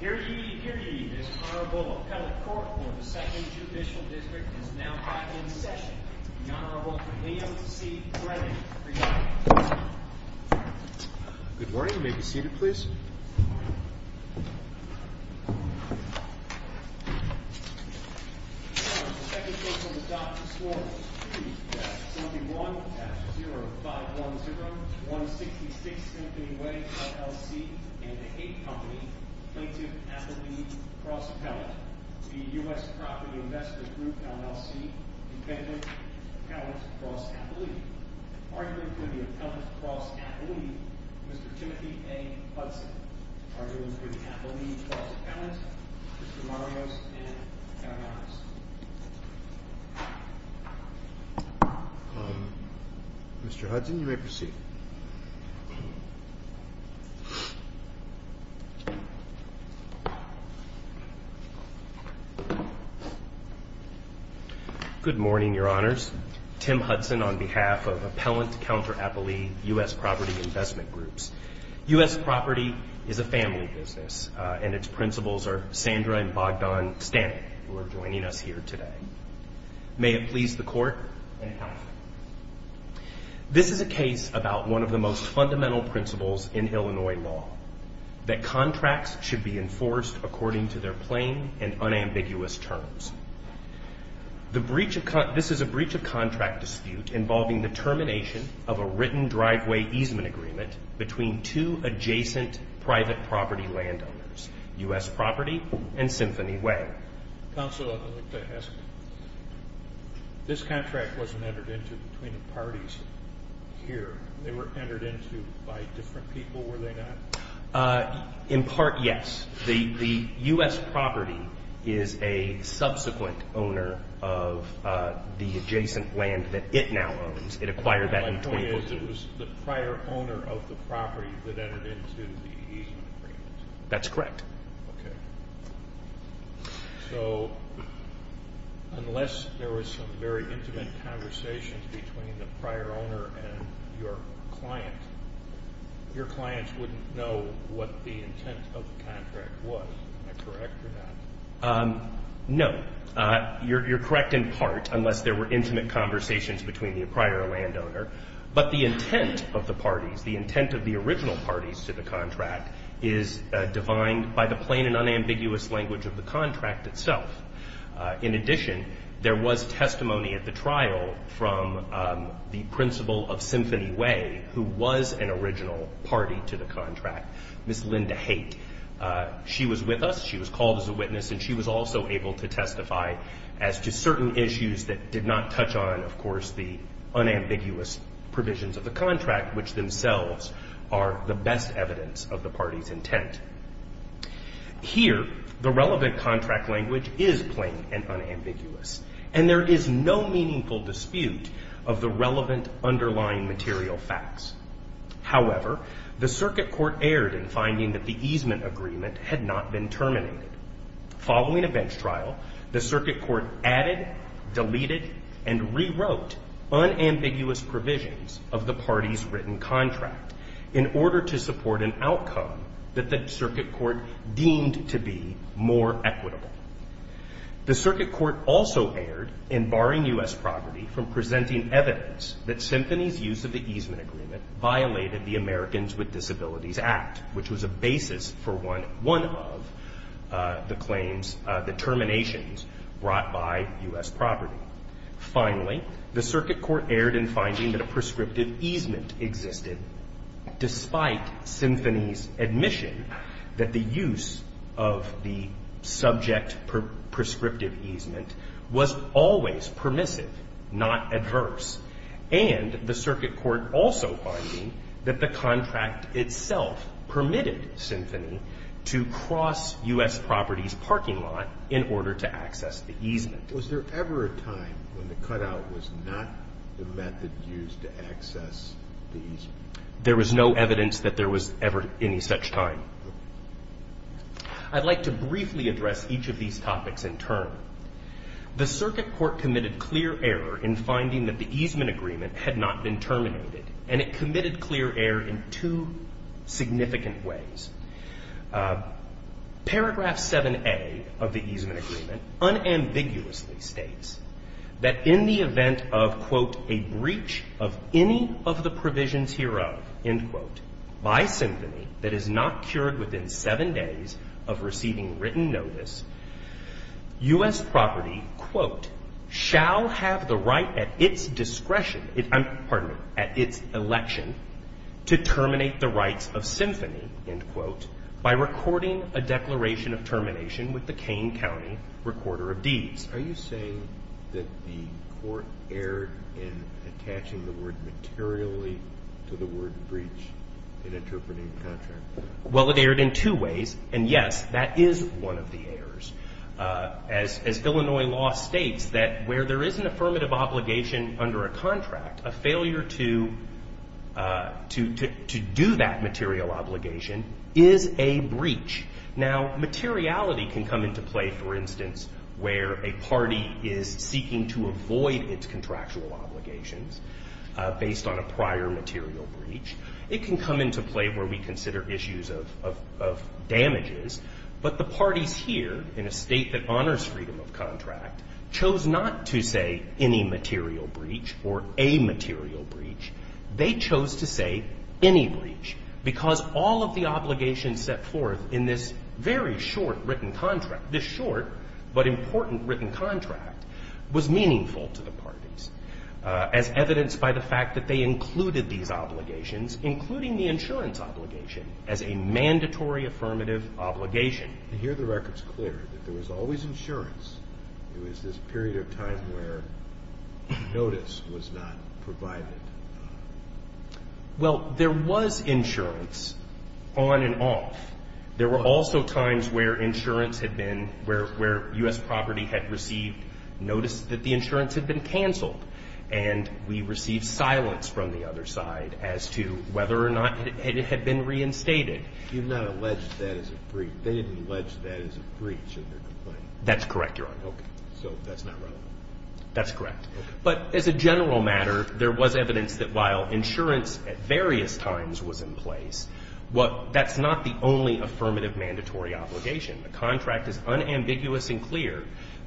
Here ye, here ye, this Honorable Appellate Court for the 2nd Judicial District is now back in session. The Honorable Liam C. Brennan, presiding. Good morning, you may be seated please. The 2nd case on the dock is sworn. Mr. Hudson, you may proceed. Good morning, your honors. Tim Hudson on behalf of Appellant Counter Appellee U.S. Property Investment Groups. U.S. property is a family business and its principles are Sandra and Bogdan Stanek who are joining us here today. May it please the court. This is a case about one of the most fundamental principles in Illinois law, that contracts should be enforced according to their plain and unambiguous terms. This is a breach of contract dispute involving the termination of a written driveway easement agreement between two adjacent private property landowners, U.S. Property and Symphony Way. Counsel, I'd like to ask, this contract wasn't entered into between the parties here. They were entered into by different people, were they not? In part, yes. The U.S. property is a subsequent owner of the adjacent land that it now owns. It acquired that in 2012. It was the prior owner of the property that entered into the easement agreement. That's correct. Okay. So, unless there was some very intimate conversations between the prior owner and your client, your clients wouldn't know what the intent of the contract was. Am I correct or not? No. You're correct in part, unless there were intimate conversations between the prior landowner. But the intent of the parties, the intent of the original parties to the contract, is defined by the plain and unambiguous language of the contract itself. In addition, there was testimony at the trial from the principal of Symphony Way, who was an original party to the contract, Ms. Linda Haight. She was with us. She was called as a witness. And she was also able to testify as to certain issues that did not touch on, of course, the unambiguous provisions of the contract, which themselves are the best evidence of the party's intent. Here, the relevant contract language is plain and unambiguous, and there is no meaningful dispute of the relevant underlying material facts. However, the circuit court erred in finding that the easement agreement had not been terminated. Following a bench trial, the circuit court added, deleted, and rewrote unambiguous provisions of the party's written contract in order to support an outcome that the circuit court deemed to be more equitable. The circuit court also erred in barring U.S. property from presenting evidence that Symphony's use of the easement agreement violated the Americans with Disabilities Act, which was a basis for one of the claims, the terminations brought by U.S. property. Finally, the circuit court erred in finding that a prescriptive easement existed, despite Symphony's admission that the use of the subject prescriptive easement was always permissive, not adverse. And the circuit court also finding that the contract itself permitted Symphony to cross U.S. property's parking lot in order to access the easement. Was there ever a time when the cutout was not the method used to access the easement? There was no evidence that there was ever any such time. I'd like to briefly address each of these topics in turn. The circuit court committed clear error in finding that the easement agreement had not been terminated, and it committed clear error in two significant ways. Paragraph 7a of the easement agreement unambiguously states that in the event of, quote, a breach of any of the provisions hereof, end quote, by Symphony that is not cured within seven days of receiving written notice, U.S. property, quote, shall have the right at its discretion, pardon me, at its election to terminate the rights of Symphony, end quote. By recording a declaration of termination with the Kane County recorder of deeds. Are you saying that the court erred in attaching the word materially to the word breach in interpreting the contract? Well, it erred in two ways. And yes, that is one of the errors. As Illinois law states that where there is an affirmative obligation under a contract, a failure to do that material obligation is a breach. Now, materiality can come into play, for instance, where a party is seeking to avoid its contractual obligations based on a prior material breach. It can come into play where we consider issues of damages. But the parties here, in a state that honors freedom of contract, chose not to say any material breach or a material breach. They chose to say any breach because all of the obligations set forth in this very short written contract, this short but important written contract, was meaningful to the parties. As evidenced by the fact that they included these obligations, including the insurance obligation, as a mandatory affirmative obligation. And here the record's clear that there was always insurance. It was this period of time where notice was not provided. Well, there was insurance on and off. There were also times where insurance had been, where U.S. property had received notice that the insurance had been canceled. And we received silence from the other side as to whether or not it had been reinstated. You've not alleged that as a breach. They didn't allege that as a breach in their complaint. That's correct, Your Honor. Okay. So that's not relevant. That's correct. Okay. But as a general matter, there was evidence that while insurance at various times was in place, that's not the only affirmative mandatory obligation. The contract is unambiguous and clear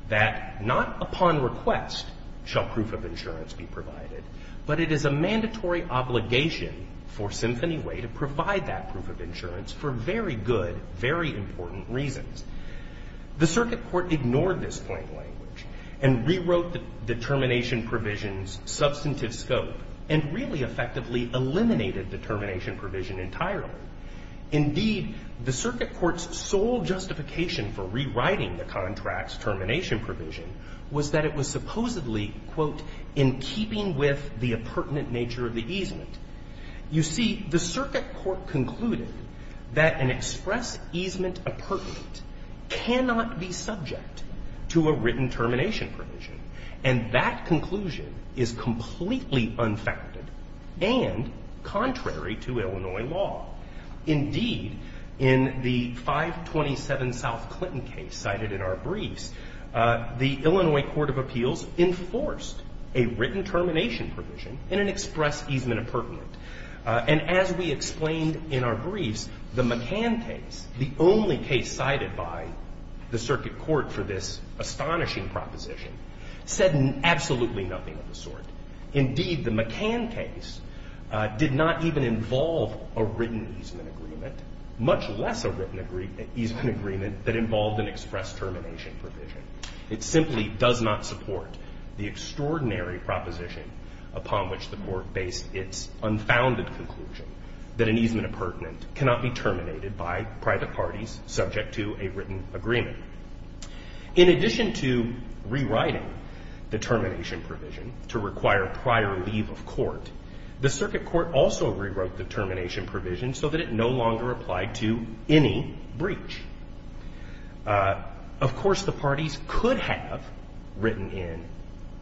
that not upon request shall proof of insurance be provided. But it is a mandatory obligation for Symphony Way to provide that proof of insurance for very good, very important reasons. The circuit court ignored this plain language and rewrote the termination provision's substantive scope and really effectively eliminated the termination provision entirely. Indeed, the circuit court's sole justification for rewriting the contract's termination provision was that it was supposedly, quote, in keeping with the appurtenant nature of the easement. You see, the circuit court concluded that an express easement appurtenant cannot be subject to a written termination provision. And that conclusion is completely unfounded and contrary to Illinois law. Indeed, in the 527 South Clinton case cited in our briefs, the Illinois Court of Appeals enforced a written termination provision in an express easement appurtenant. And as we explained in our briefs, the McCann case, the only case cited by the circuit court for this astonishing proposition, said absolutely nothing of the sort. Indeed, the McCann case did not even involve a written easement agreement, much less a written easement agreement that involved an express termination provision. It simply does not support the extraordinary proposition upon which the Court based its unfounded conclusion that an easement appurtenant cannot be terminated by private parties subject to a written agreement. In addition to rewriting the termination provision to require prior leave of court, the circuit court also rewrote the termination provision so that it no longer applied to any breach. Of course, the parties could have written in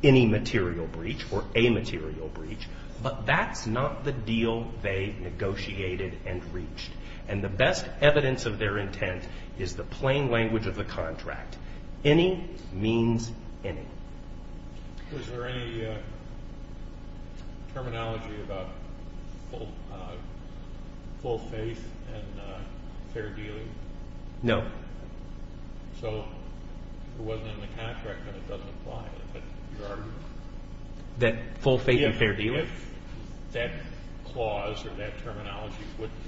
any material breach or a material breach, but that's not the deal they negotiated and reached. And the best evidence of their intent is the plain language of the contract. Any means any. Was there any terminology about full faith and fair dealing? No. So it wasn't in the contract and it doesn't apply? That full faith and fair dealing? If that clause or that terminology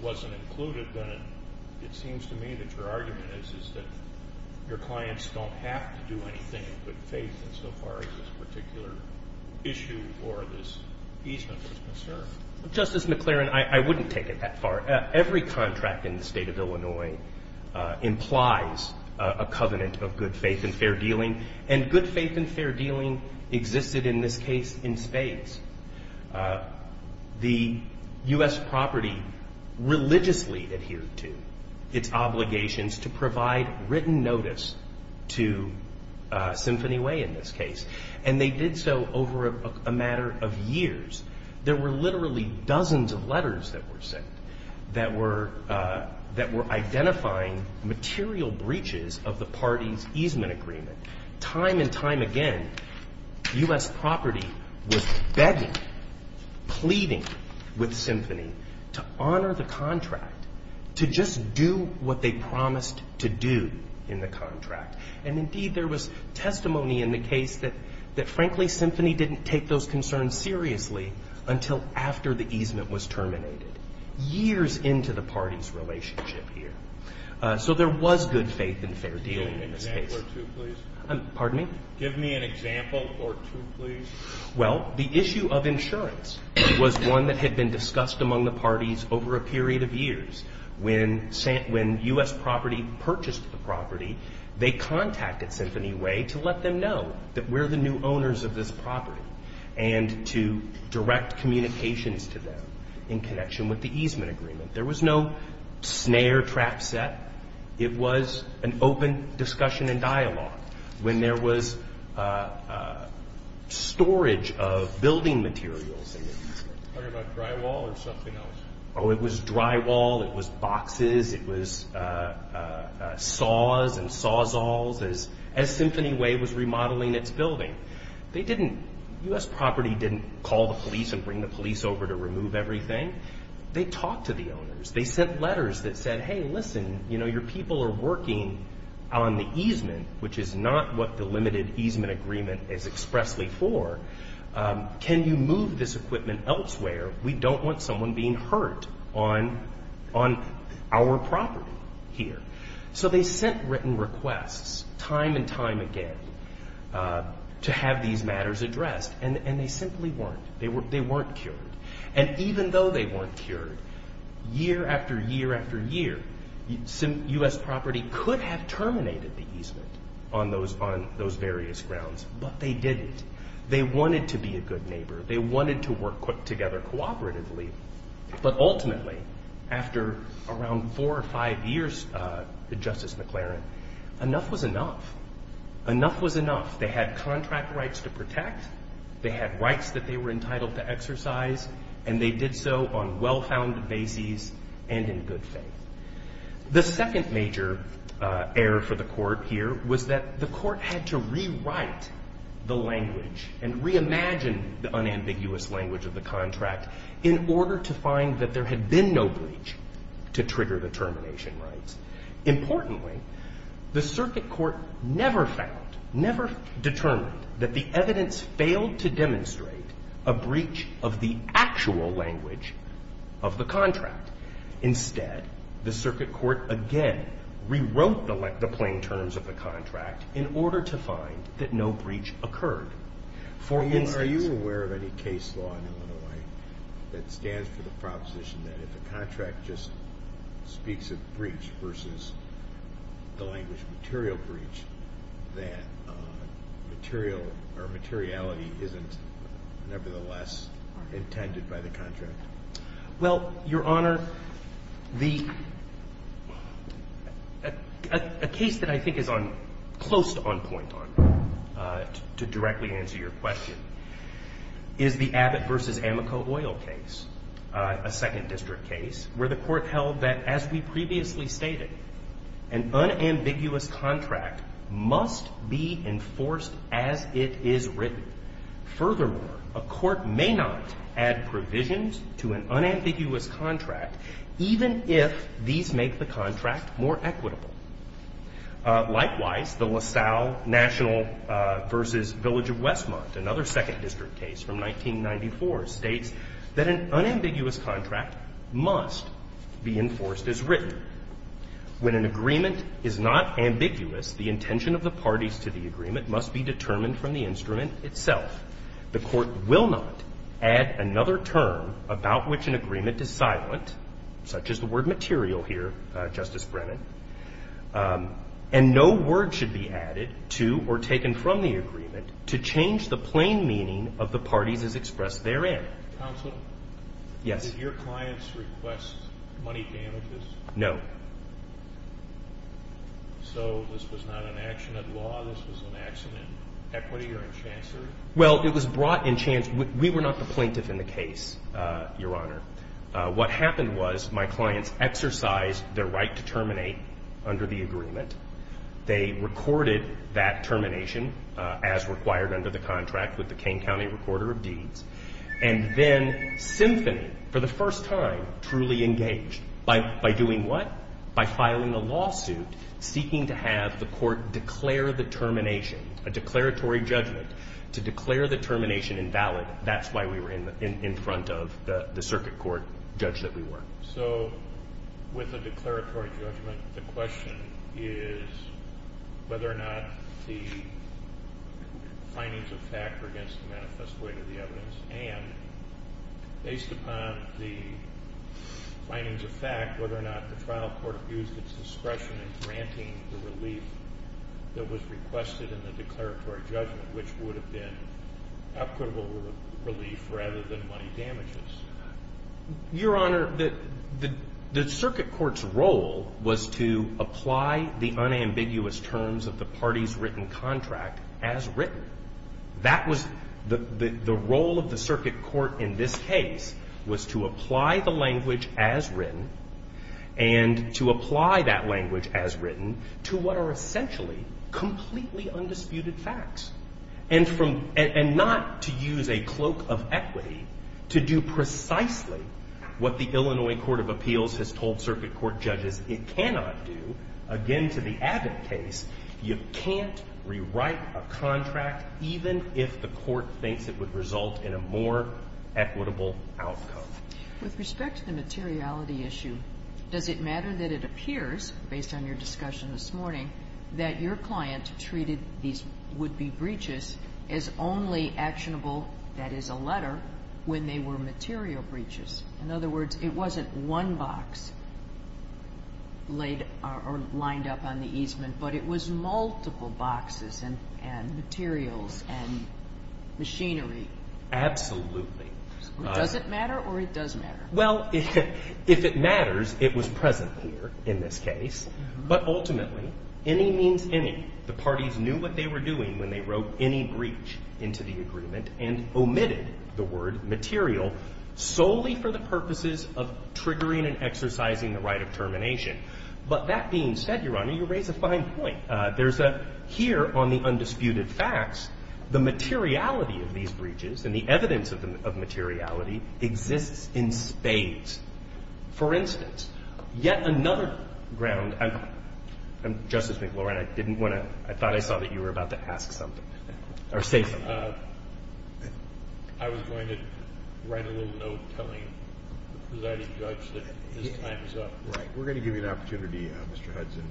wasn't included, then it seems to me that your argument is that your clients don't have to do anything in good faith insofar as this particular issue or this easement was concerned. Justice McClaren, I wouldn't take it that far. Every contract in the State of Illinois implies a covenant of good faith and fair dealing. The U.S. property religiously adhered to its obligations to provide written notice to Symphony Way in this case. And they did so over a matter of years. There were literally dozens of letters that were sent that were identifying material breaches of the party's easement agreement. Time and time again, U.S. property was begging, pleading with Symphony to honor the contract, to just do what they promised to do in the contract. And indeed there was testimony in the case that frankly Symphony didn't take those concerns seriously until after the easement was terminated. Years into the party's relationship here. Give me an example or two, please. Well, the issue of insurance was one that had been discussed among the parties over a period of years. When U.S. property purchased the property, they contacted Symphony Way to let them know that we're the new owners of this property and to direct communications to them in connection with the easement agreement. There was no snare trap set. It was an open discussion and dialogue when there was storage of building materials in the easement. Are you talking about drywall or something else? Oh, it was drywall, it was boxes, it was saws and sawzalls as Symphony Way was remodeling its building. U.S. property didn't call the police and bring the police over to remove everything. They talked to the owners, they sent letters that said, hey, listen, your people are working on the easement, which is not what the limited easement agreement is expressly for. Can you move this equipment elsewhere? We don't want someone being hurt on our property here. So they sent written requests time and time again to have these matters addressed. And they simply weren't. They weren't cured. And even though they weren't cured, year after year after year, U.S. property could have terminated the easement on those various grounds, but they didn't. They wanted to be a good neighbor. They wanted to work together cooperatively. But ultimately, after around four or five years, Justice McLaren, enough was enough. Enough was enough. They had contract rights to protect, they had rights that they were entitled to exercise, and they did so on well-founded bases and in good faith. The second major error for the court here was that the court had to rewrite the language and reimagine the unambiguous language of the contract in order to make it clear that there had been no breach to trigger the termination rights. Importantly, the circuit court never found, never determined that the evidence failed to demonstrate a breach of the actual language of the contract. Instead, the circuit court again rewrote the plain terms of the contract in order to find that no breach occurred. Are you aware of any case law in Illinois that stands for the proposition that if a contract just speaks of breach versus the language of material breach, that material or materiality isn't nevertheless intended by the contract? Well, Your Honor, a case that I think is close to on point on, to directly on point on, is a case that I think is on point on. To answer your question, is the Abbott versus Amoco Oil case, a second district case, where the court held that as we previously stated, an unambiguous contract must be enforced as it is written. Furthermore, a court may not add provisions to an unambiguous contract even if these make the contract more equitable. Likewise, the LaSalle National versus Village of Westmont, another second district case from 1994, states that an unambiguous contract must be enforced as written. When an agreement is not ambiguous, the intention of the parties to the agreement must be determined from the instrument itself. The court will not add another term about which an agreement is silent, such as the word material here, Justice Brennan, and no word should be added to or taken from the agreement to change the plain meaning of the parties as expressed therein. Counsel, did your clients request money damages? No. So this was not an action of law? This was an action in equity or in chancer? Well, it was brought in chance. We were not the plaintiff in the case, Your Honor. What happened was my clients exercised their right to terminate under the agreement. They recorded that termination as required under the contract with the King County Recorder of Deeds, and then Symphony, for the first time, truly engaged by doing what? By filing a lawsuit seeking to have the court declare the termination, a declaratory judgment, to declare the termination invalid. That's why we were in front of the circuit court judge that we were. So with a declaratory judgment, the question is whether or not the findings of fact are against the manifest weight of the evidence, and based upon the findings of fact, whether or not the trial court abused its discretion in granting the relief that was requested in the declaratory judgment, which would have been equitable relief rather than money damages. Your Honor, the circuit court's role was to apply the unambiguous terms of the party's written contract as written. The role of the circuit court in this case was to apply the language as written and to apply that language as written to what are essentially completely undisputed facts, and not to use a cloak of equity to do precisely what the Illinois Court of Appeals has told circuit court judges it cannot do. Again, to the Abbott case, you can't rewrite a contract, even if the court thinks it would result in a more equitable outcome. With respect to the materiality issue, does it matter that it appears, based on your discussion this morning, that your client, your client treated these would-be breaches as only actionable, that is, a letter, when they were material breaches? In other words, it wasn't one box laid or lined up on the easement, but it was multiple boxes and materials and machinery. Absolutely. Does it matter, or it does matter? Well, if it matters, it was present here in this case. But ultimately, any means any. The parties knew what they were doing when they wrote any breach into the agreement and omitted the word material solely for the purposes of triggering and exercising the right of termination. But that being said, Your Honor, you raise a fine point. There's a – here on the undisputed facts, the materiality of these breaches and the evidence of materiality exists in spades. For instance, yet another ground – Justice McLauren, I didn't want to – I thought I saw that you were about to ask something or say something. I was going to write a little note telling the presiding judge that his time is up. Right. We're going to give you an opportunity, Mr. Hudson,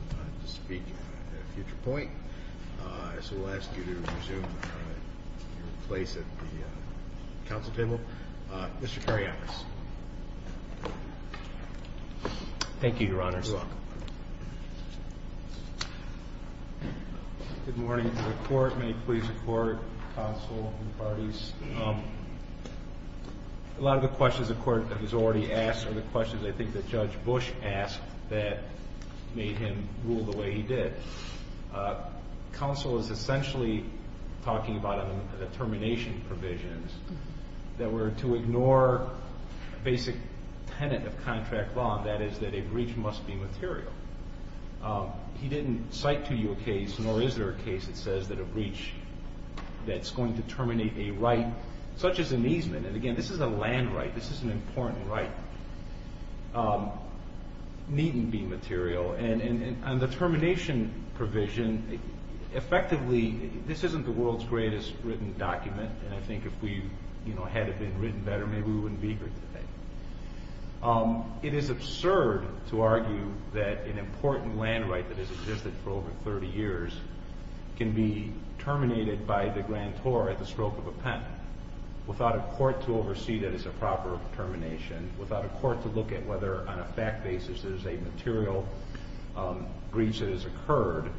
to speak at a future point. So we'll ask you to resume your place at the council table. Mr. Karyakis. Thank you, Your Honor. Good morning to the court. May it please the court, counsel, and the parties. A lot of the questions the court has already asked are the questions I think that Judge Bush asked that made him rule the way he did. Counsel is essentially talking about the termination provisions that were to ignore basic tenet of contract law. That is that a breach must be material. He didn't cite to you a case, nor is there a case that says that a breach that's going to terminate a right such as an easement – and again, this is a land right, this is an important right – needn't be material. And the termination provision effectively – this isn't the world's greatest written document, and I think if we had it been written better, maybe we wouldn't be here today. It is absurd to argue that an important land right that has existed for over 30 years can be terminated by the grantor at the stroke of a pen without a court to oversee that it's a proper termination, without a court to look at whether on a fact basis there's a material breach that has occurred.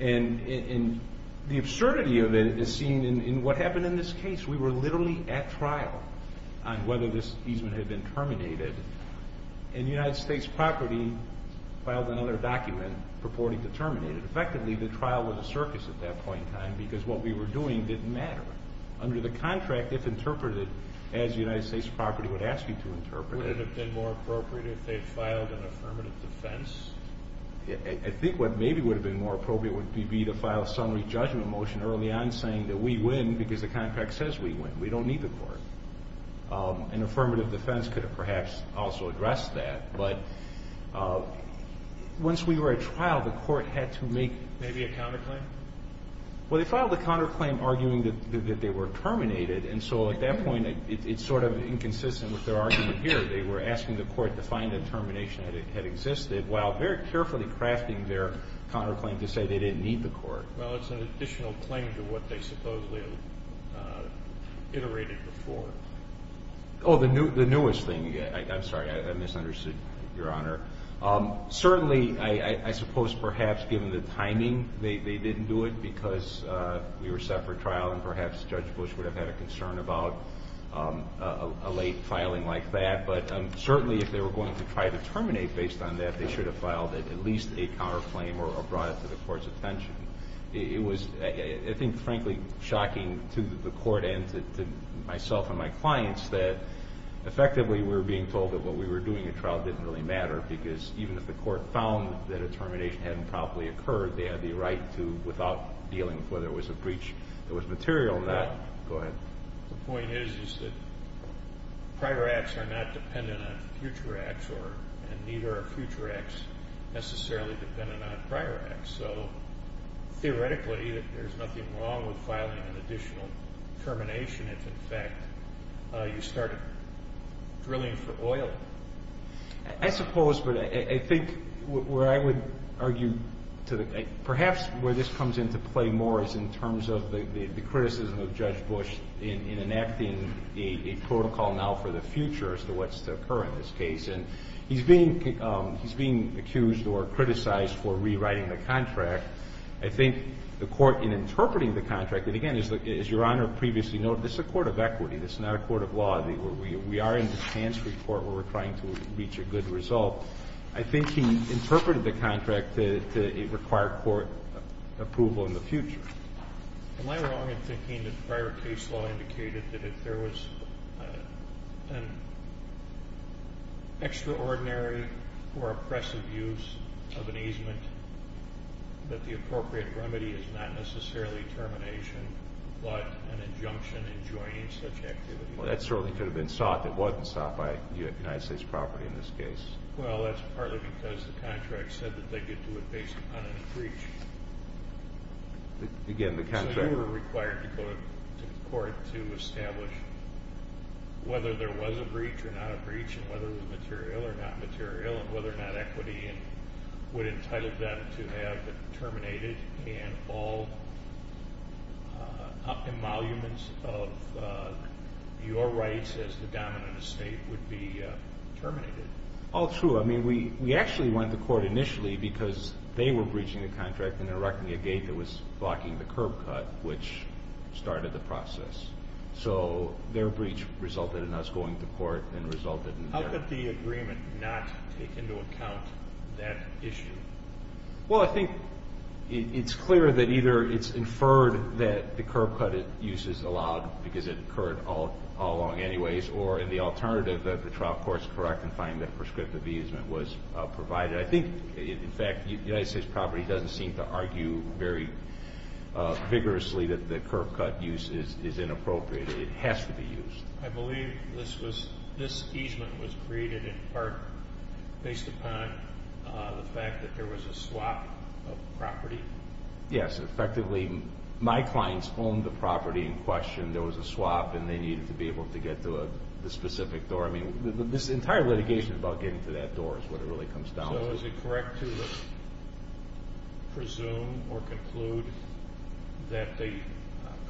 And the absurdity of it is seen in what happened in this case. We were literally at trial on whether this easement had been terminated, and United States property filed another document purporting to terminate it. Effectively, the trial was a circus at that point in time because what we were doing didn't matter. Under the contract, if interpreted as United States property would ask you to interpret it – more appropriate would be to file a summary judgment motion early on saying that we win because the contract says we win. We don't need the court. An affirmative defense could have perhaps also addressed that, but once we were at trial, the court had to make maybe a counterclaim. Well, they filed a counterclaim arguing that they were terminated, and so at that point it's sort of inconsistent with their argument here. They were asking the court to find a termination that had existed while very carefully crafting their counterclaim to say they didn't need the court. Well, it's an additional claim to what they supposedly iterated before. Oh, the newest thing. I'm sorry. I misunderstood, Your Honor. Certainly, I suppose perhaps given the timing they didn't do it because we were set for trial and perhaps Judge Bush would have had a concern about a late filing like that, but certainly if they were going to try to terminate based on that, they should have filed at least a counterclaim or brought it to the court's attention. It was, I think, frankly shocking to the court and to myself and my clients that effectively we were being told that what we were doing at trial didn't really matter because even if the court found that a termination hadn't properly occurred, they had the right to, without dealing with whether it was a breach that was material or not. The point is that prior acts are not dependent on future acts, and neither are future acts necessarily dependent on prior acts. So theoretically there's nothing wrong with filing an additional termination if in fact you started drilling for oil. I suppose, but I think where I would argue perhaps where this comes into play more is in terms of the criticism of Judge Bush in enacting a protocol now for the future as to what's to occur in this case. And he's being accused or criticized for rewriting the contract. I think the court in interpreting the contract, and again, as Your Honor previously noted, this is a court of equity. This is not a court of law. We are in the chance report where we're trying to reach a good result. I think he interpreted the contract to require court approval in the future. Am I wrong in thinking that prior case law indicated that if there was an extraordinary or oppressive use of an easement, that the appropriate remedy is not necessarily termination, but an injunction enjoining such activity? Well, that certainly could have been sought. It wasn't sought by United States property in this case. Well, that's partly because the contract said that they could do it based upon a breach. Again, the contract... the court to establish whether there was a breach or not a breach, and whether it was material or not material, and whether or not equity would entitle them to have it terminated, and all emoluments of your rights as the dominant estate would be terminated. All true. I mean, we actually went to court initially because they were breaching the contract and erecting a gate that was blocking the curb cut, which started the process. So their breach resulted in us going to court and resulted in their... How could the agreement not take into account that issue? Well, I think it's clear that either it's inferred that the curb cut uses allowed because it occurred all along anyways, or in the alternative that the trial court's correct in finding that prescriptive easement was provided. I think, in fact, United States property doesn't seem to argue very vigorously that the curb cut use is inappropriate. It has to be used. I believe this easement was created in part based upon the fact that there was a swap of property. Yes, effectively. My clients owned the property in question. There was a swap, and they needed to be able to get to the specific door. I mean, this entire litigation is about getting to that door is what it really comes down to. So is it correct to presume or conclude that the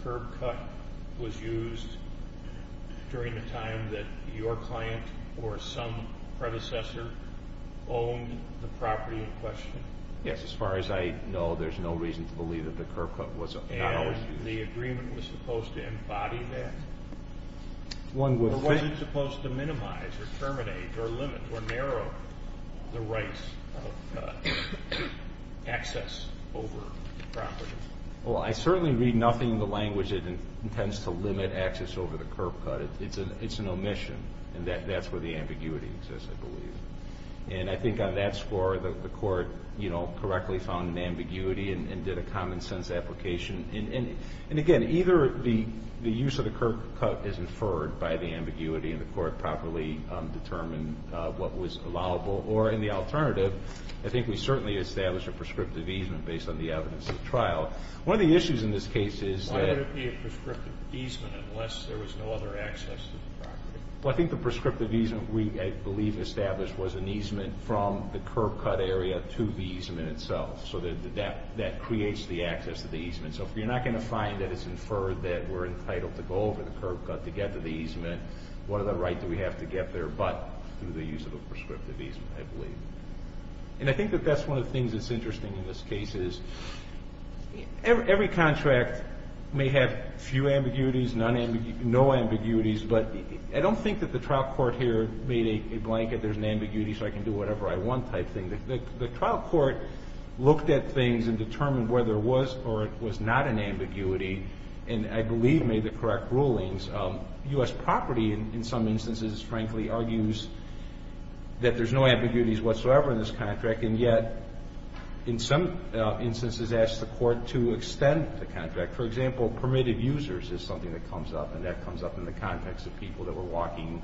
curb cut was used during the time that your client or some predecessor owned the property in question? Yes, as far as I know, there's no reason to believe that the curb cut was not always used. And the agreement was supposed to embody that? One would think... Well, I certainly read nothing in the language that intends to limit access over the curb cut. It's an omission, and that's where the ambiguity exists, I believe. And I think on that score, the court correctly found an ambiguity and did a common-sense application. And, again, either the use of the curb cut is inferred by the ambiguity and the court properly determined what was allowable or, in the alternative, I think we certainly established a prescriptive easement based on the evidence of trial. One of the issues in this case is that... Why would it be a prescriptive easement unless there was no other access to the property? Well, I think the prescriptive easement we, I believe, established was an easement from the curb cut area to the easement itself. So that creates the access to the easement. So if you're not going to find that it's inferred that we're entitled to go over the curb cut to get to the easement, what other right do we have to get there but through the use of a prescriptive easement, I believe. And I think that that's one of the things that's interesting in this case, is every contract may have few ambiguities, no ambiguities, but I don't think that the trial court here made a blanket, there's an ambiguity so I can do whatever I want type thing. The trial court looked at things and determined whether it was or it was not an ambiguity and, I believe, made the correct rulings. U.S. property, in some instances, frankly, argues that there's no ambiguities whatsoever in this contract and yet, in some instances, asked the court to extend the contract. For example, permitted users is something that comes up and that comes up in the context of people that were walking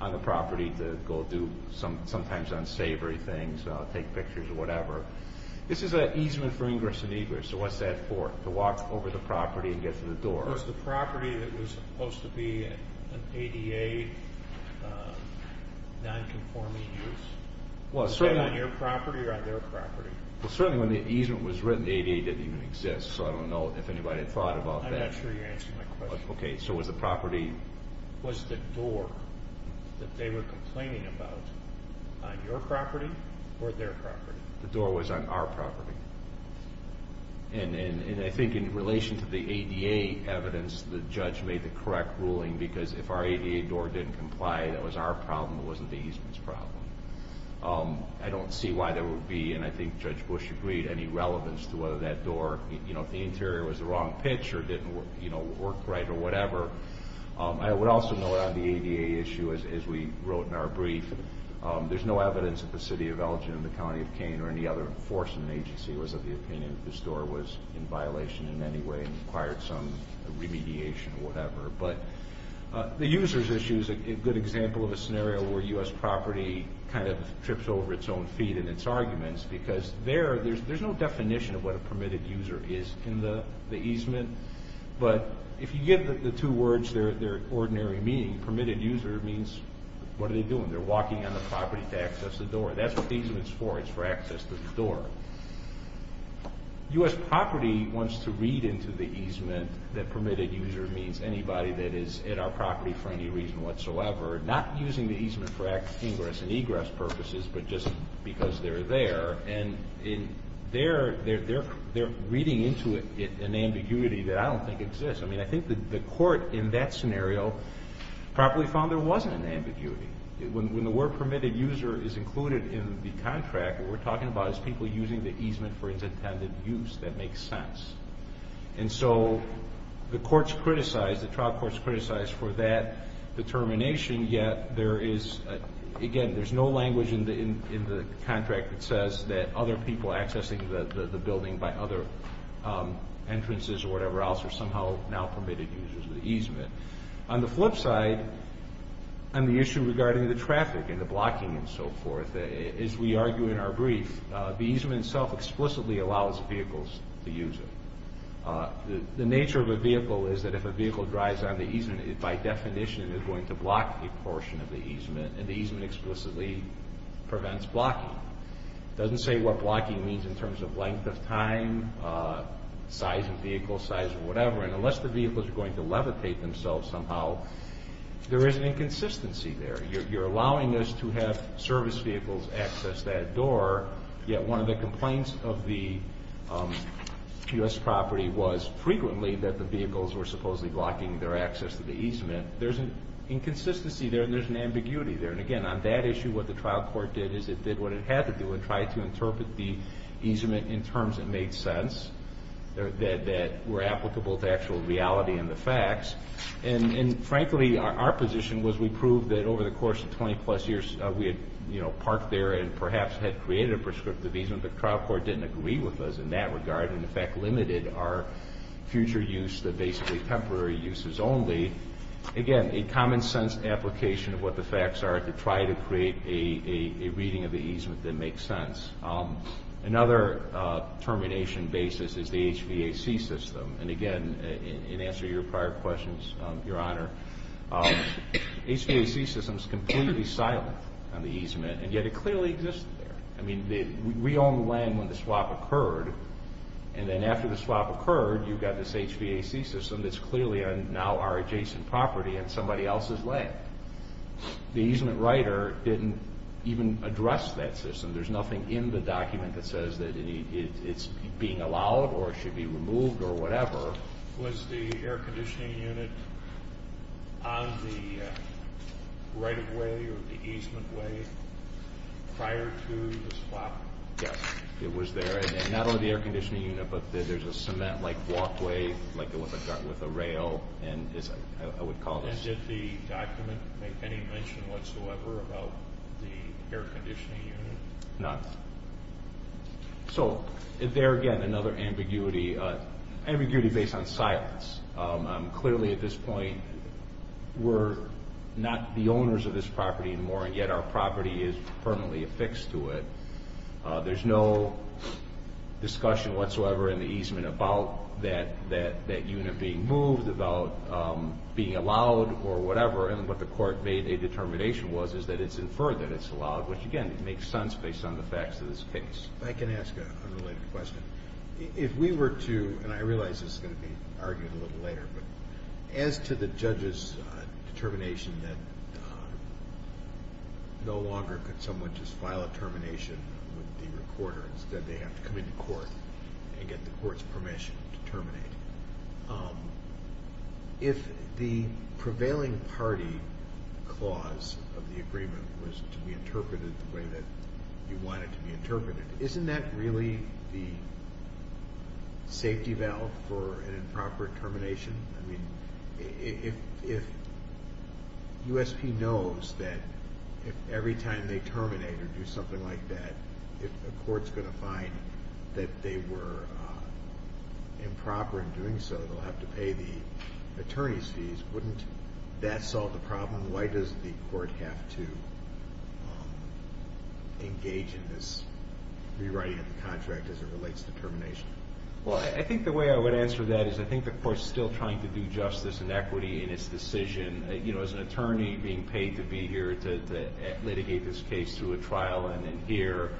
on the property to go do sometimes unsavory things, take pictures or whatever. This is an easement for ingress and egress. So what's that for, to walk over the property and get to the door? Was the property that was supposed to be an ADA nonconforming use on your property or on their property? Well, certainly when the easement was written, the ADA didn't even exist, so I don't know if anybody thought about that. I'm not sure you're answering my question. Okay, so was the property... Was the door that they were complaining about on your property or their property? The door was on our property. And I think in relation to the ADA evidence, the judge made the correct ruling because if our ADA door didn't comply, that was our problem, it wasn't the easement's problem. I don't see why there would be, and I think Judge Bush agreed, any relevance to whether that door, you know, if the interior was the wrong pitch or didn't work right or whatever. I would also note on the ADA issue, as we wrote in our brief, there's no evidence that the city of Elgin or the county of Kane or any other enforcement agency was of the opinion that this door was in violation in any way and required some remediation or whatever. But the user's issue is a good example of a scenario where U.S. property kind of trips over its own feet in its arguments because there's no definition of what a permitted user is in the easement. But if you give the two words their ordinary meaning, permitted user means what are they doing? They're walking on the property to access the door. That's what the easement's for. It's for access to the door. U.S. property wants to read into the easement that permitted user means anybody that is at our property for any reason whatsoever, not using the easement for ingress and egress purposes, but just because they're there. And they're reading into it an ambiguity that I don't think exists. I mean, I think the court in that scenario probably found there wasn't an ambiguity. When the word permitted user is included in the contract, what we're talking about is people using the easement for its intended use. That makes sense. And so the courts criticized, the trial courts criticized for that determination, yet there is, again, there's no language in the contract that says that other people accessing the building by other entrances or whatever else are somehow now permitted users of the easement. On the flip side, on the issue regarding the traffic and the blocking and so forth, as we argue in our brief, the easement itself explicitly allows vehicles to use it. The nature of a vehicle is that if a vehicle drives on the easement, it by definition is going to block a portion of the easement, and the easement explicitly prevents blocking. It doesn't say what blocking means in terms of length of time, size of vehicle, size of whatever, and unless the vehicles are going to levitate themselves somehow, there is an inconsistency there. You're allowing us to have service vehicles access that door, yet one of the complaints of the U.S. property was frequently that the vehicles were supposedly blocking their access to the easement. There's an inconsistency there, and there's an ambiguity there. And again, on that issue, what the trial court did is it did what it had to do and try to interpret the easement in terms that made sense, that were applicable to actual reality and the facts. And frankly, our position was we proved that over the course of 20-plus years, we had parked there and perhaps had created a prescriptive easement, but the trial court didn't agree with us in that regard and in fact limited our future use to basically temporary uses only. Again, a common-sense application of what the facts are to try to create a reading of the easement that makes sense. Another termination basis is the HVAC system. And again, in answer to your prior questions, Your Honor, HVAC system is completely silent on the easement, and yet it clearly existed there. I mean, we owned the land when the swap occurred, and then after the swap occurred, you've got this HVAC system that's clearly now our adjacent property on somebody else's land. The easement writer didn't even address that system. There's nothing in the document that says that it's being allowed or it should be removed or whatever. Was the air conditioning unit on the right-of-way or the easement way prior to the swap? Yes, it was there, and not only the air conditioning unit, but there's a cement-like walkway with a rail, and I would call this. And did the document make any mention whatsoever about the air conditioning unit? None. So there again, another ambiguity based on silence. Clearly at this point, we're not the owners of this property anymore, and yet our property is permanently affixed to it. There's no discussion whatsoever in the easement about that unit being moved, about being allowed or whatever, and what the court made a determination was is that it's inferred that it's allowed, which again makes sense based on the facts of this case. If I can ask a related question. If we were to, and I realize this is going to be argued a little later, but as to the judge's determination that no longer could someone just file a termination with the recorder, instead they have to come into court and get the court's permission to terminate, if the prevailing party clause of the agreement was to be interpreted the way that you want it to be interpreted, isn't that really the safety valve for an improper termination? I mean, if USP knows that if every time they terminate or do something like that, if the court's going to find that they were improper in doing so, they'll have to pay the attorney's fees, wouldn't that solve the problem? Why does the court have to engage in this rewriting of the contract as it relates to termination? Well, I think the way I would answer that is I think the court's still trying to do justice and equity in its decision. As an attorney being paid to be here to litigate this case through a trial and then here,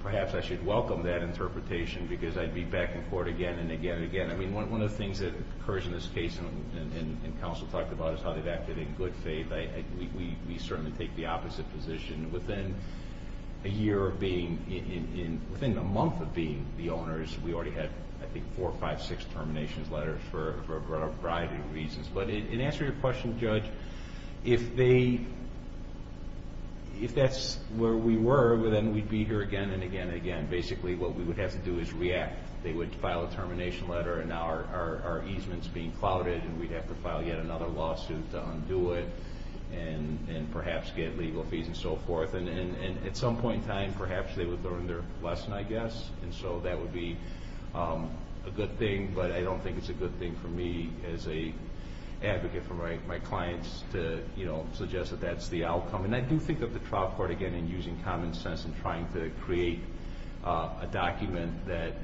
perhaps I should welcome that interpretation because I'd be back in court again and again and again. I mean, one of the things that occurs in this case and counsel talked about is how they've acted in good faith. We certainly take the opposite position. Within a month of being the owners, we already had, I think, four, five, six terminations letters for a variety of reasons. But in answer to your question, Judge, if that's where we were, then we'd be here again and again and again. Basically, what we would have to do is react. They would file a termination letter, and now our easement's being clouded, and we'd have to file yet another lawsuit to undo it and perhaps get legal fees and so forth. At some point in time, perhaps they would learn their lesson, I guess, and so that would be a good thing. But I don't think it's a good thing for me as an advocate for my clients to suggest that that's the outcome. And I do think that the trial court, again, in using common sense and trying to create a document that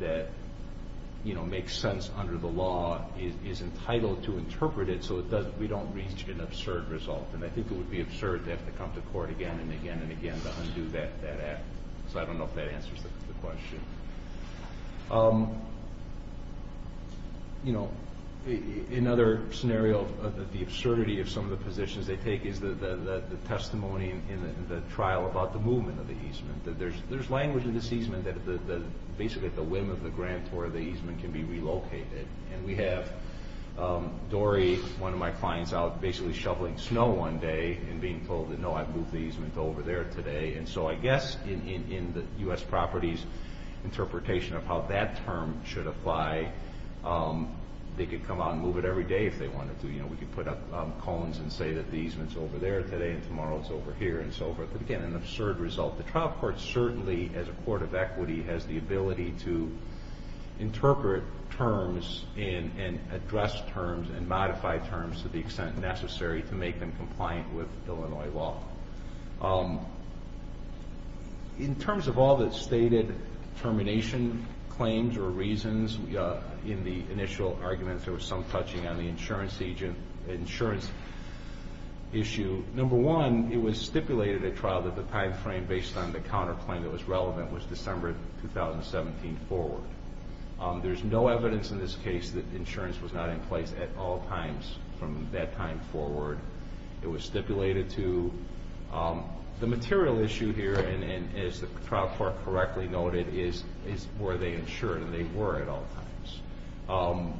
makes sense under the law, is entitled to interpret it so we don't reach an absurd result. And I think it would be absurd to have to come to court again and again and again to undo that act. So I don't know if that answers the question. Another scenario of the absurdity of some of the positions they take is the testimony in the trial about the movement of the easement. There's language in this easement that basically the whim of the grantor of the easement can be relocated. And we have Dory, one of my clients, out basically shoveling snow one day and being told, no, I've moved the easement over there today. And so I guess in the U.S. property's interpretation of how that term should apply, they could come out and move it every day if they wanted to. We could put up cones and say that the easement's over there today and tomorrow it's over here and so forth. Again, an absurd result. The trial court certainly, as a court of equity, has the ability to interpret terms and address terms and modify terms to the extent necessary to make them compliant with Illinois law. In terms of all the stated termination claims or reasons in the initial arguments, there was some touching on the insurance issue. Number one, it was stipulated at trial that the time frame based on the counterclaim that was relevant was December 2017 forward. There's no evidence in this case that insurance was not in place at all times from that time forward. It was stipulated to. The material issue here, and as the trial court correctly noted, is were they insured, and they were at all times.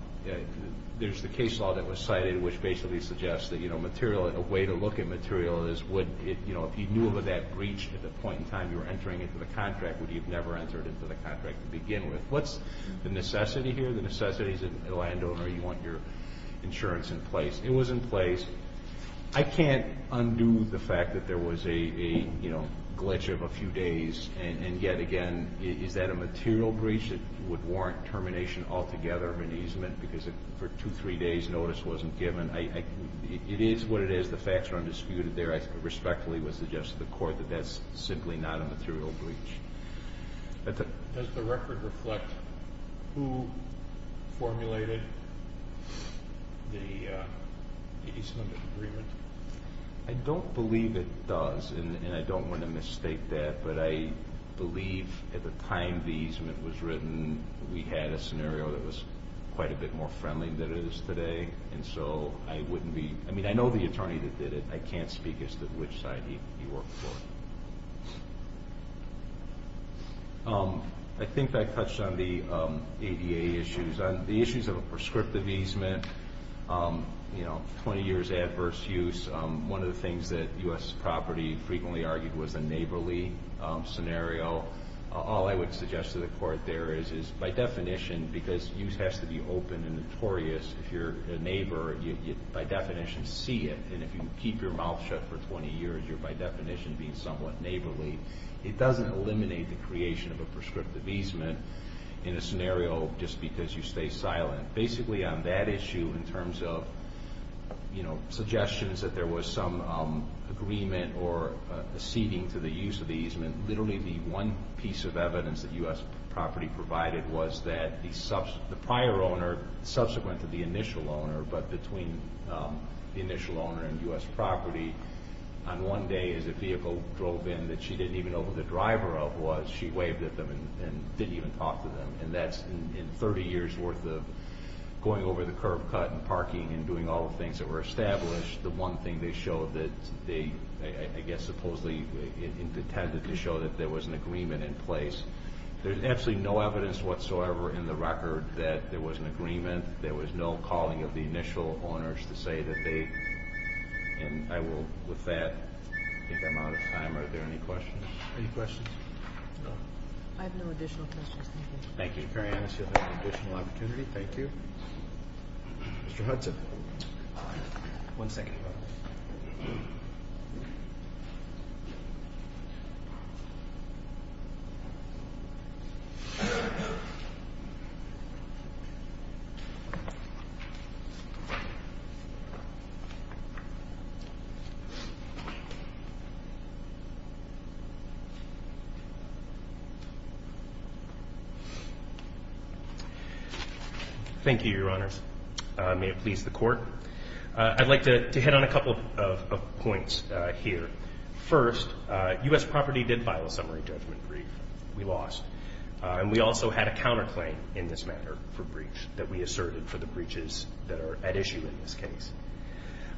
There's the case law that was cited which basically suggests that a way to look at material is if you knew about that breach at the point in time you were entering into the contract, would you have never entered into the contract to begin with? What's the necessity here? The necessity is a landowner, you want your insurance in place. It was in place. I can't undo the fact that there was a glitch of a few days, and yet again, is that a material breach that would warrant termination altogether of an easement because for two, three days notice wasn't given? It is what it is. The facts are undisputed there. I respectfully would suggest to the court that that's simply not a material breach. Does the record reflect who formulated the easement agreement? I don't believe it does, and I don't want to mistake that, but I believe at the time the easement was written we had a scenario that was quite a bit more friendly than it is today, and so I wouldn't be—I mean, I know the attorney that did it. I can't speak as to which side he worked for. I think I touched on the ADA issues. The issues of a prescriptive easement, 20 years adverse use, one of the things that U.S. property frequently argued was a neighborly scenario. All I would suggest to the court there is by definition, because use has to be open and notorious, if you're a neighbor you by definition see it, and if you keep your mouth shut for 20 years you're by definition being somewhat neighborly. It doesn't eliminate the creation of a prescriptive easement in a scenario just because you stay silent. Basically on that issue in terms of suggestions that there was some agreement or ceding to the use of the easement, literally the one piece of evidence that U.S. property provided was that the prior owner, subsequent to the initial owner, but between the initial owner and U.S. property, on one day as a vehicle drove in that she didn't even know who the driver of was, she waved at them and didn't even talk to them, and that's in 30 years worth of going over the curb cut and parking and doing all the things that were established, the one thing they showed that they I guess supposedly intended to show that there was an agreement in place. There's absolutely no evidence whatsoever in the record that there was an agreement, there was no calling of the initial owners to say that they, and I will with that, I think I'm out of time. Are there any questions? Any questions? No. I have no additional questions. Thank you. Thank you. Mr. Perianos, you'll have an additional opportunity. Thank you. Mr. Hudson. One second. Thank you, Your Honors. May it please the Court. I'd like to hit on a couple of points here. First, U.S. property did file a summary judgment brief. We lost. And we also had a counterclaim in this matter for breach that we asserted for the breaches that are at issue in this case.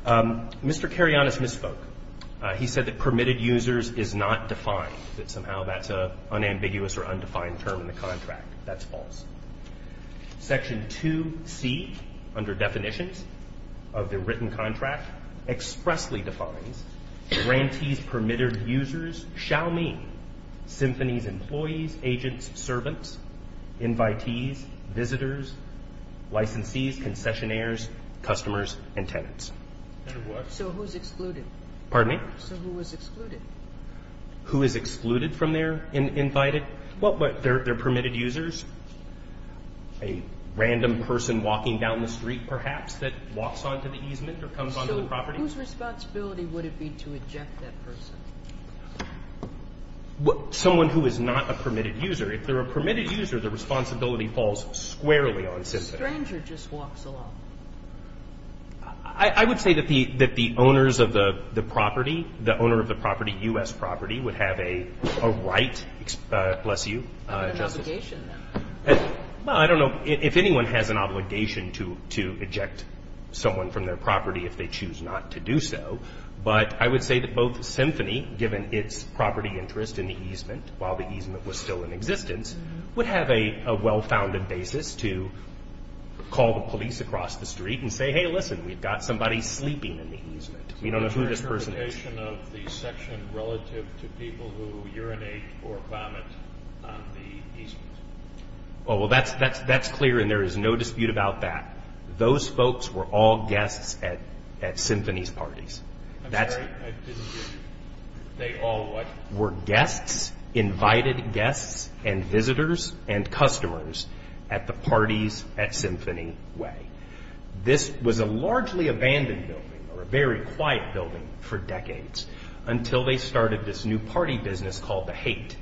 Mr. Perianos misspoke. He said that permitted users is not defined, that somehow that's an unambiguous or undefined term in the contract. That's false. Section 2C, under definitions of the written contract, expressly defines grantees, permitted users, shall mean symphonies, employees, agents, servants, invitees, visitors, licensees, concessionaires, customers, and tenants. So who's excluded? Pardon me? So who is excluded? Who is excluded from their invited? Well, they're permitted users. A random person walking down the street, perhaps, that walks onto the easement or comes onto the property. So whose responsibility would it be to eject that person? Someone who is not a permitted user. If they're a permitted user, the responsibility falls squarely on symphony. A stranger just walks along. I would say that the owners of the property, the owner of the property, U.S. property, would have a right. Bless you, Justice. An obligation, then. Well, I don't know if anyone has an obligation to eject someone from their property if they choose not to do so. But I would say that both symphony, given its property interest in the easement while the easement was still in existence, would have a well-founded basis to call the police across the street and say, Hey, listen, we've got somebody sleeping in the easement. We don't know who this person is. Interpretation of the section relative to people who urinate or vomit on the easement. Oh, well, that's clear, and there is no dispute about that. Those folks were all guests at symphony's parties. I'm sorry, I didn't get you. They all what? Were guests, invited guests and visitors and customers at the parties at symphony way. This was a largely abandoned building or a very quiet building for decades until they started this new party business called The Hate.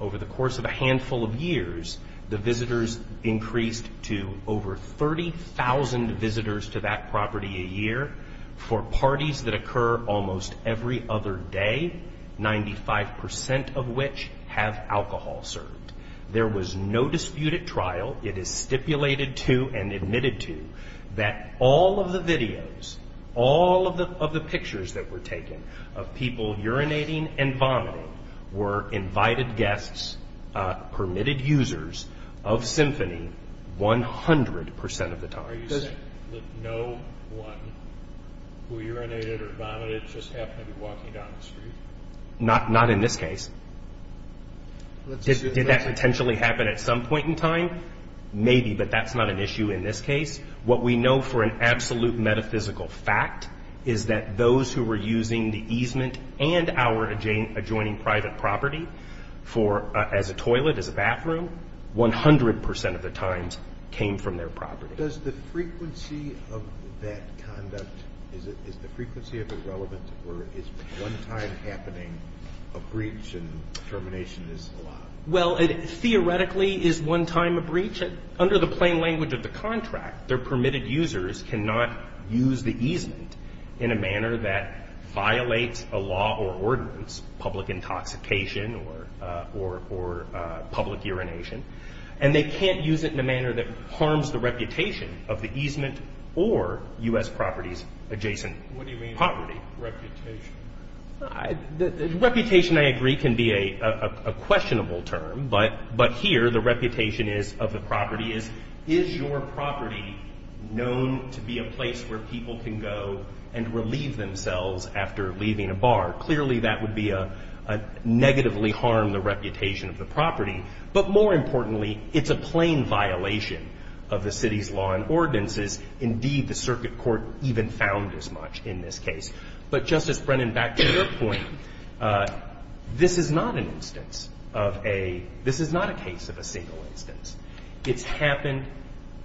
Over the course of a handful of years, the visitors increased to over 30,000 visitors to that property a year. For parties that occur almost every other day, 95 percent of which have alcohol served. There was no dispute at trial. It is stipulated to and admitted to that all of the videos, all of the pictures that were taken of people urinating and vomiting were invited guests, permitted users of symphony 100 percent of the time. Are you saying that no one who urinated or vomited just happened to be walking down the street? Not in this case. Did that potentially happen at some point in time? Maybe, but that's not an issue in this case. What we know for an absolute metaphysical fact is that those who were using the easement and our adjoining private property as a toilet, as a bathroom, 100 percent of the times came from their property. Does the frequency of that conduct, is the frequency of it relevant or is one time happening a breach and termination is allowed? Well, it theoretically is one time a breach. Under the plain language of the contract, their permitted users cannot use the easement in a manner that violates a law or ordinance, public intoxication or public urination. And they can't use it in a manner that harms the reputation of the easement or U.S. properties adjacent poverty. What do you mean reputation? Reputation, I agree, can be a questionable term, but here the reputation of the property is, is your property known to be a place where people can go and relieve themselves after leaving a bar? Clearly, that would negatively harm the reputation of the property. But more importantly, it's a plain violation of the city's law and ordinances. Indeed, the circuit court even found as much in this case. But Justice Brennan, back to your point, this is not an instance of a, this is not a case of a single instance. It's happened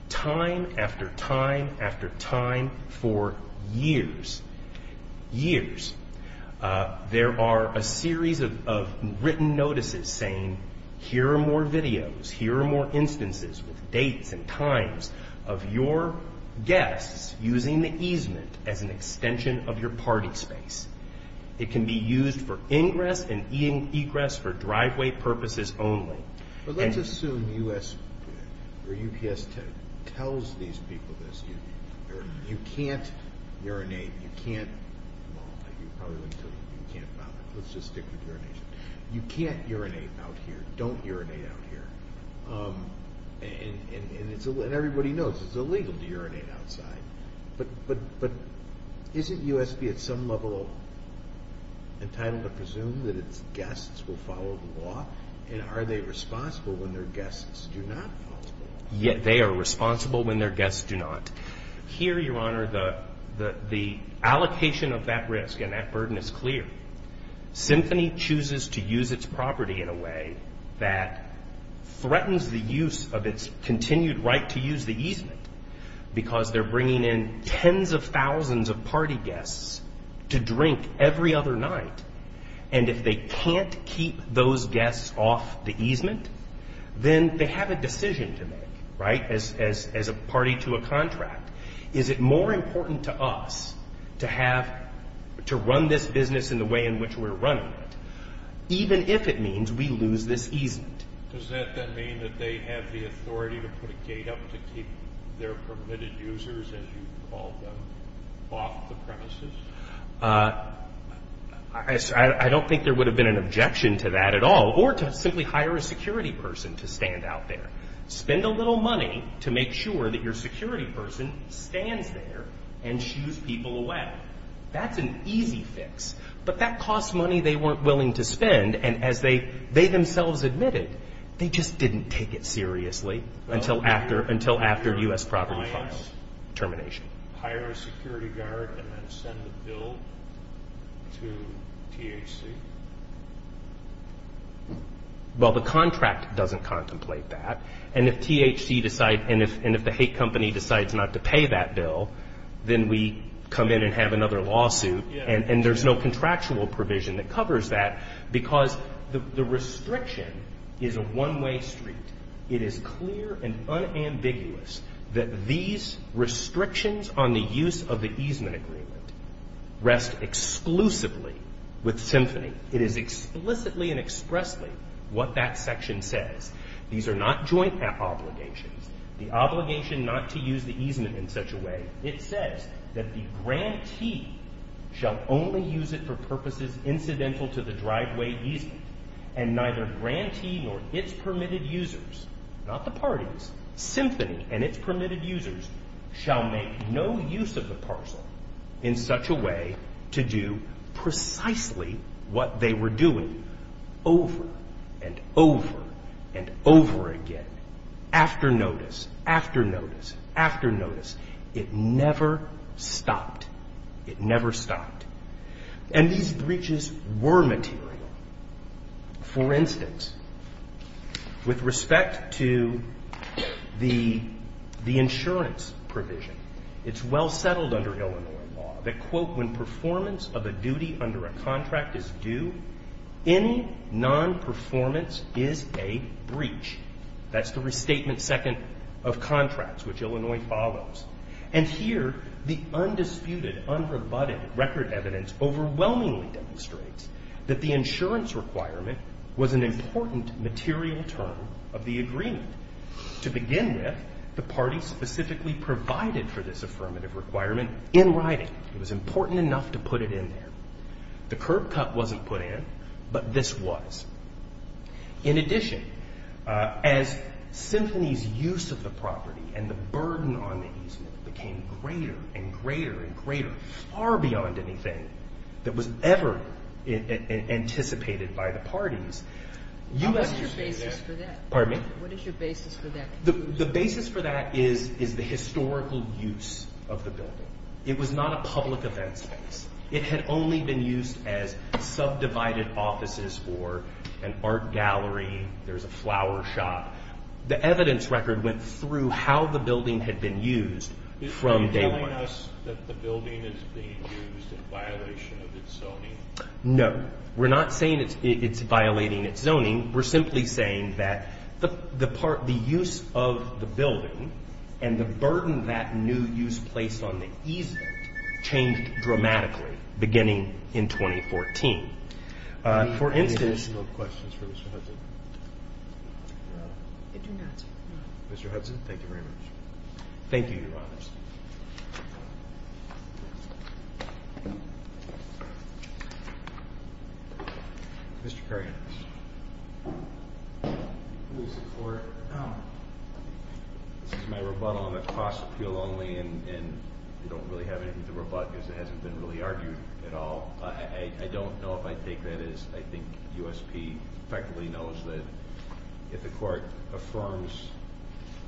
time after time after time for years, years. There are a series of written notices saying here are more videos, here are more instances with dates and times of your guests using the easement as an extension of your party space. It can be used for ingress and egress for driveway purposes only. But let's assume U.S. or UPS tells these people this. You can't urinate, you can't, well, you probably wouldn't tell them, you can't bother. Let's just stick with urination. You can't urinate out here, don't urinate out here. And everybody knows it's illegal to urinate outside. But isn't U.S.B. at some level entitled to presume that its guests will follow the law? And are they responsible when their guests do not follow the law? Yeah, they are responsible when their guests do not. Here, Your Honor, the allocation of that risk and that burden is clear. Symphony chooses to use its property in a way that threatens the use of its continued right to use the easement because they're bringing in tens of thousands of party guests to drink every other night. And if they can't keep those guests off the easement, then they have a decision to make, right, as a party to a contract. Is it more important to us to have, to run this business in the way in which we're running it, even if it means we lose this easement? Does that then mean that they have the authority to put a gate up to keep their permitted users, as you call them, off the premises? I don't think there would have been an objection to that at all or to simply hire a security person to stand out there. Spend a little money to make sure that your security person stands there and shoes people away. That's an easy fix, but that costs money they weren't willing to spend. And as they themselves admitted, they just didn't take it seriously until after U.S. Property Clause termination. Hire a security guard and then send the bill to THC? Well, the contract doesn't contemplate that. And if THC decides, and if the hate company decides not to pay that bill, then we come in and have another lawsuit, and there's no contractual provision that covers that because the restriction is a one-way street. It is clear and unambiguous that these restrictions on the use of the easement agreement rest exclusively with Symphony. It is explicitly and expressly what that section says. These are not joint obligations, the obligation not to use the easement in such a way. It says that the grantee shall only use it for purposes incidental to the driveway easement and neither grantee nor its permitted users, not the parties, Symphony and its permitted users shall make no use of the parcel in such a way to do precisely what they were doing over and over and over again. After notice, after notice, after notice. It never stopped. It never stopped. And these breaches were material. For instance, with respect to the insurance provision, it's well settled under Illinois law that, quote, when performance of a duty under a contract is due, any nonperformance is a breach. That's the restatement second of contracts, which Illinois follows. And here the undisputed, unrebutted record evidence overwhelmingly demonstrates that the insurance requirement was an important material term of the agreement. To begin with, the party specifically provided for this affirmative requirement in writing. It was important enough to put it in there. The curb cut wasn't put in, but this was. In addition, as Symphony's use of the property and the burden on the easement became greater and greater and greater, far beyond anything that was ever anticipated by the parties. What's your basis for that? Pardon me? What is your basis for that? The basis for that is the historical use of the building. It was not a public event space. It had only been used as subdivided offices or an art gallery. There's a flower shop. The evidence record went through how the building had been used from day one. Are you telling us that the building is being used in violation of its zoning? No. We're not saying it's violating its zoning. We're simply saying that the use of the building and the burden that new use placed on the easement changed dramatically beginning in 2014. Any additional questions for Mr. Hudson? No. I do not. Mr. Hudson, thank you very much. Thank you, Your Honors. Mr. Curry. This is my rebuttal on the cost appeal only, and I don't really have anything to rebut because it hasn't been really argued at all. I don't know if I take that as I think USP effectively knows that if the court affirms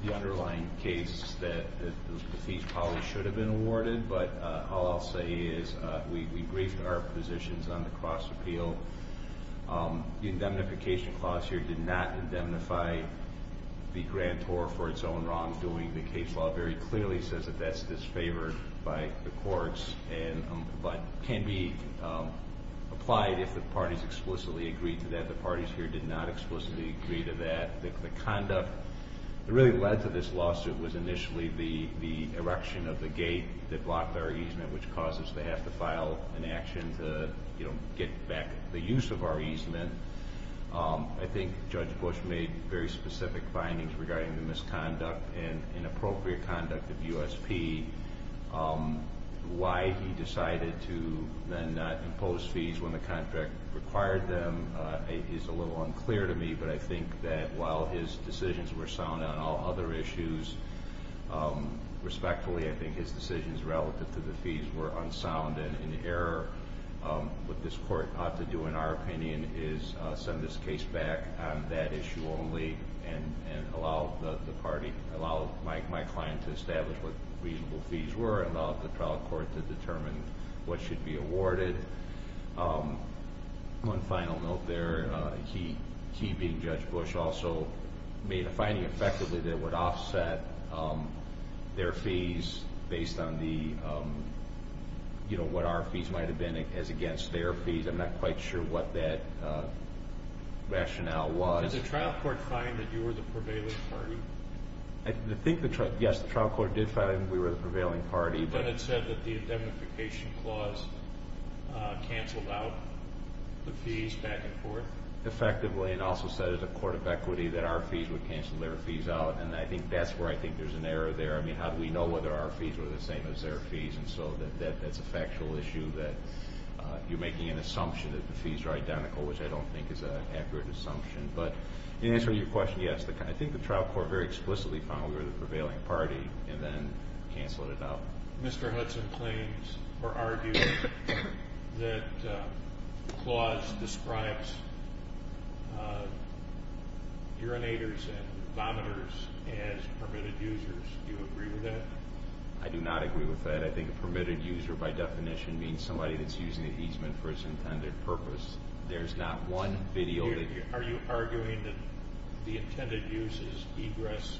the underlying case that the fees probably should have been awarded. But all I'll say is we briefed our positions on the cost appeal. The indemnification clause here did not indemnify the grantor for its own wrongdoing. The case law very clearly says that that's disfavored by the courts but can be applied if the parties explicitly agree to that. The parties here did not explicitly agree to that. The conduct that really led to this lawsuit was initially the erection of the gate that blocked our easement, which caused us to have to file an action to get back the use of our easement. I think Judge Bush made very specific findings regarding the misconduct and inappropriate conduct of USP. Why he decided to then not impose fees when the contract required them is a little unclear to me, but I think that while his decisions were sound on all other issues respectfully, I think his decisions relative to the fees were unsound and in error. What this court ought to do in our opinion is send this case back on that issue only and allow my client to establish what reasonable fees were, allow the trial court to determine what should be awarded. One final note there. He, being Judge Bush, also made a finding effectively that it would offset their fees based on what our fees might have been as against their fees. I'm not quite sure what that rationale was. Did the trial court find that you were the prevailing party? Yes, the trial court did find that we were the prevailing party. But it said that the indemnification clause canceled out the fees back and forth? Effectively. It also said as a court of equity that our fees would cancel their fees out, and that's where I think there's an error there. How do we know whether our fees were the same as their fees? That's a factual issue that you're making an assumption that the fees are identical, which I don't think is an accurate assumption. But in answering your question, yes. I think the trial court very explicitly found we were the prevailing party and then canceled it out. Mr. Hudson claims or argues that the clause describes urinators and vomitors as permitted users. Do you agree with that? I do not agree with that. I think a permitted user by definition means somebody that's using the easement for its intended purpose. There's not one video. Are you arguing that the intended use is ingress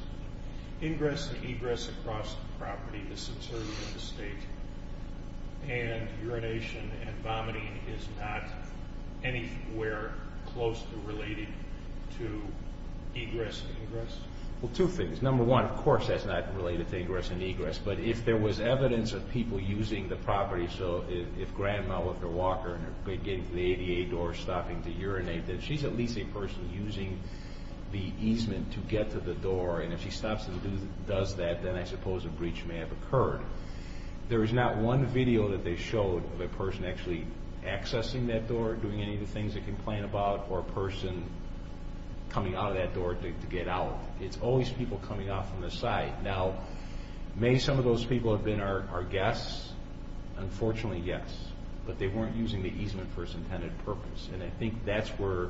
and egress across the property, the subsurface of the estate, and urination and vomiting is not anywhere close to related to egress and ingress? Well, two things. Number one, of course that's not related to egress and egress. But if there was evidence of people using the property, so if Grandma with her walker and her kid getting to the ADA door, stopping to urinate, then she's at least a person using the easement to get to the door. And if she stops and does that, then I suppose a breach may have occurred. There is not one video that they showed of a person actually accessing that door, doing any of the things they complain about, or a person coming out of that door to get out. It's always people coming out from the side. Now, may some of those people have been our guests? Unfortunately, yes. But they weren't using the easement for its intended purpose. And I think that's where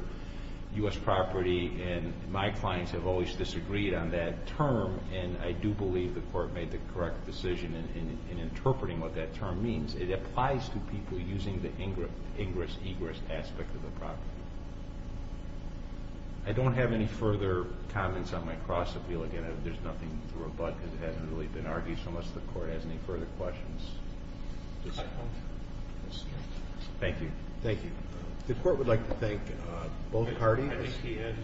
U.S. Property and my clients have always disagreed on that term, and I do believe the Court made the correct decision in interpreting what that term means. It applies to people using the ingress-egress aspect of the property. I don't have any further comments on my cross-appeal. Again, there's nothing to rebut because it hasn't really been argued, so unless the Court has any further questions. Thank you. Thank you. The Court would like to thank both parties. I think he has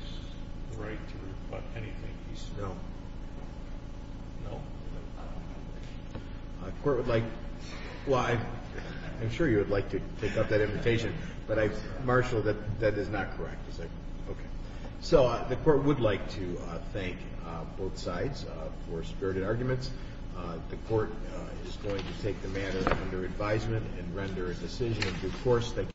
the right to rebut anything he says. No. No? The Court would like to thank both parties. Well, I'm sure you would like to take up that invitation, but I marshal that that is not correct. Okay. So the Court would like to thank both sides for spirited arguments. The Court is going to take the matter under advisement and render a decision in due course.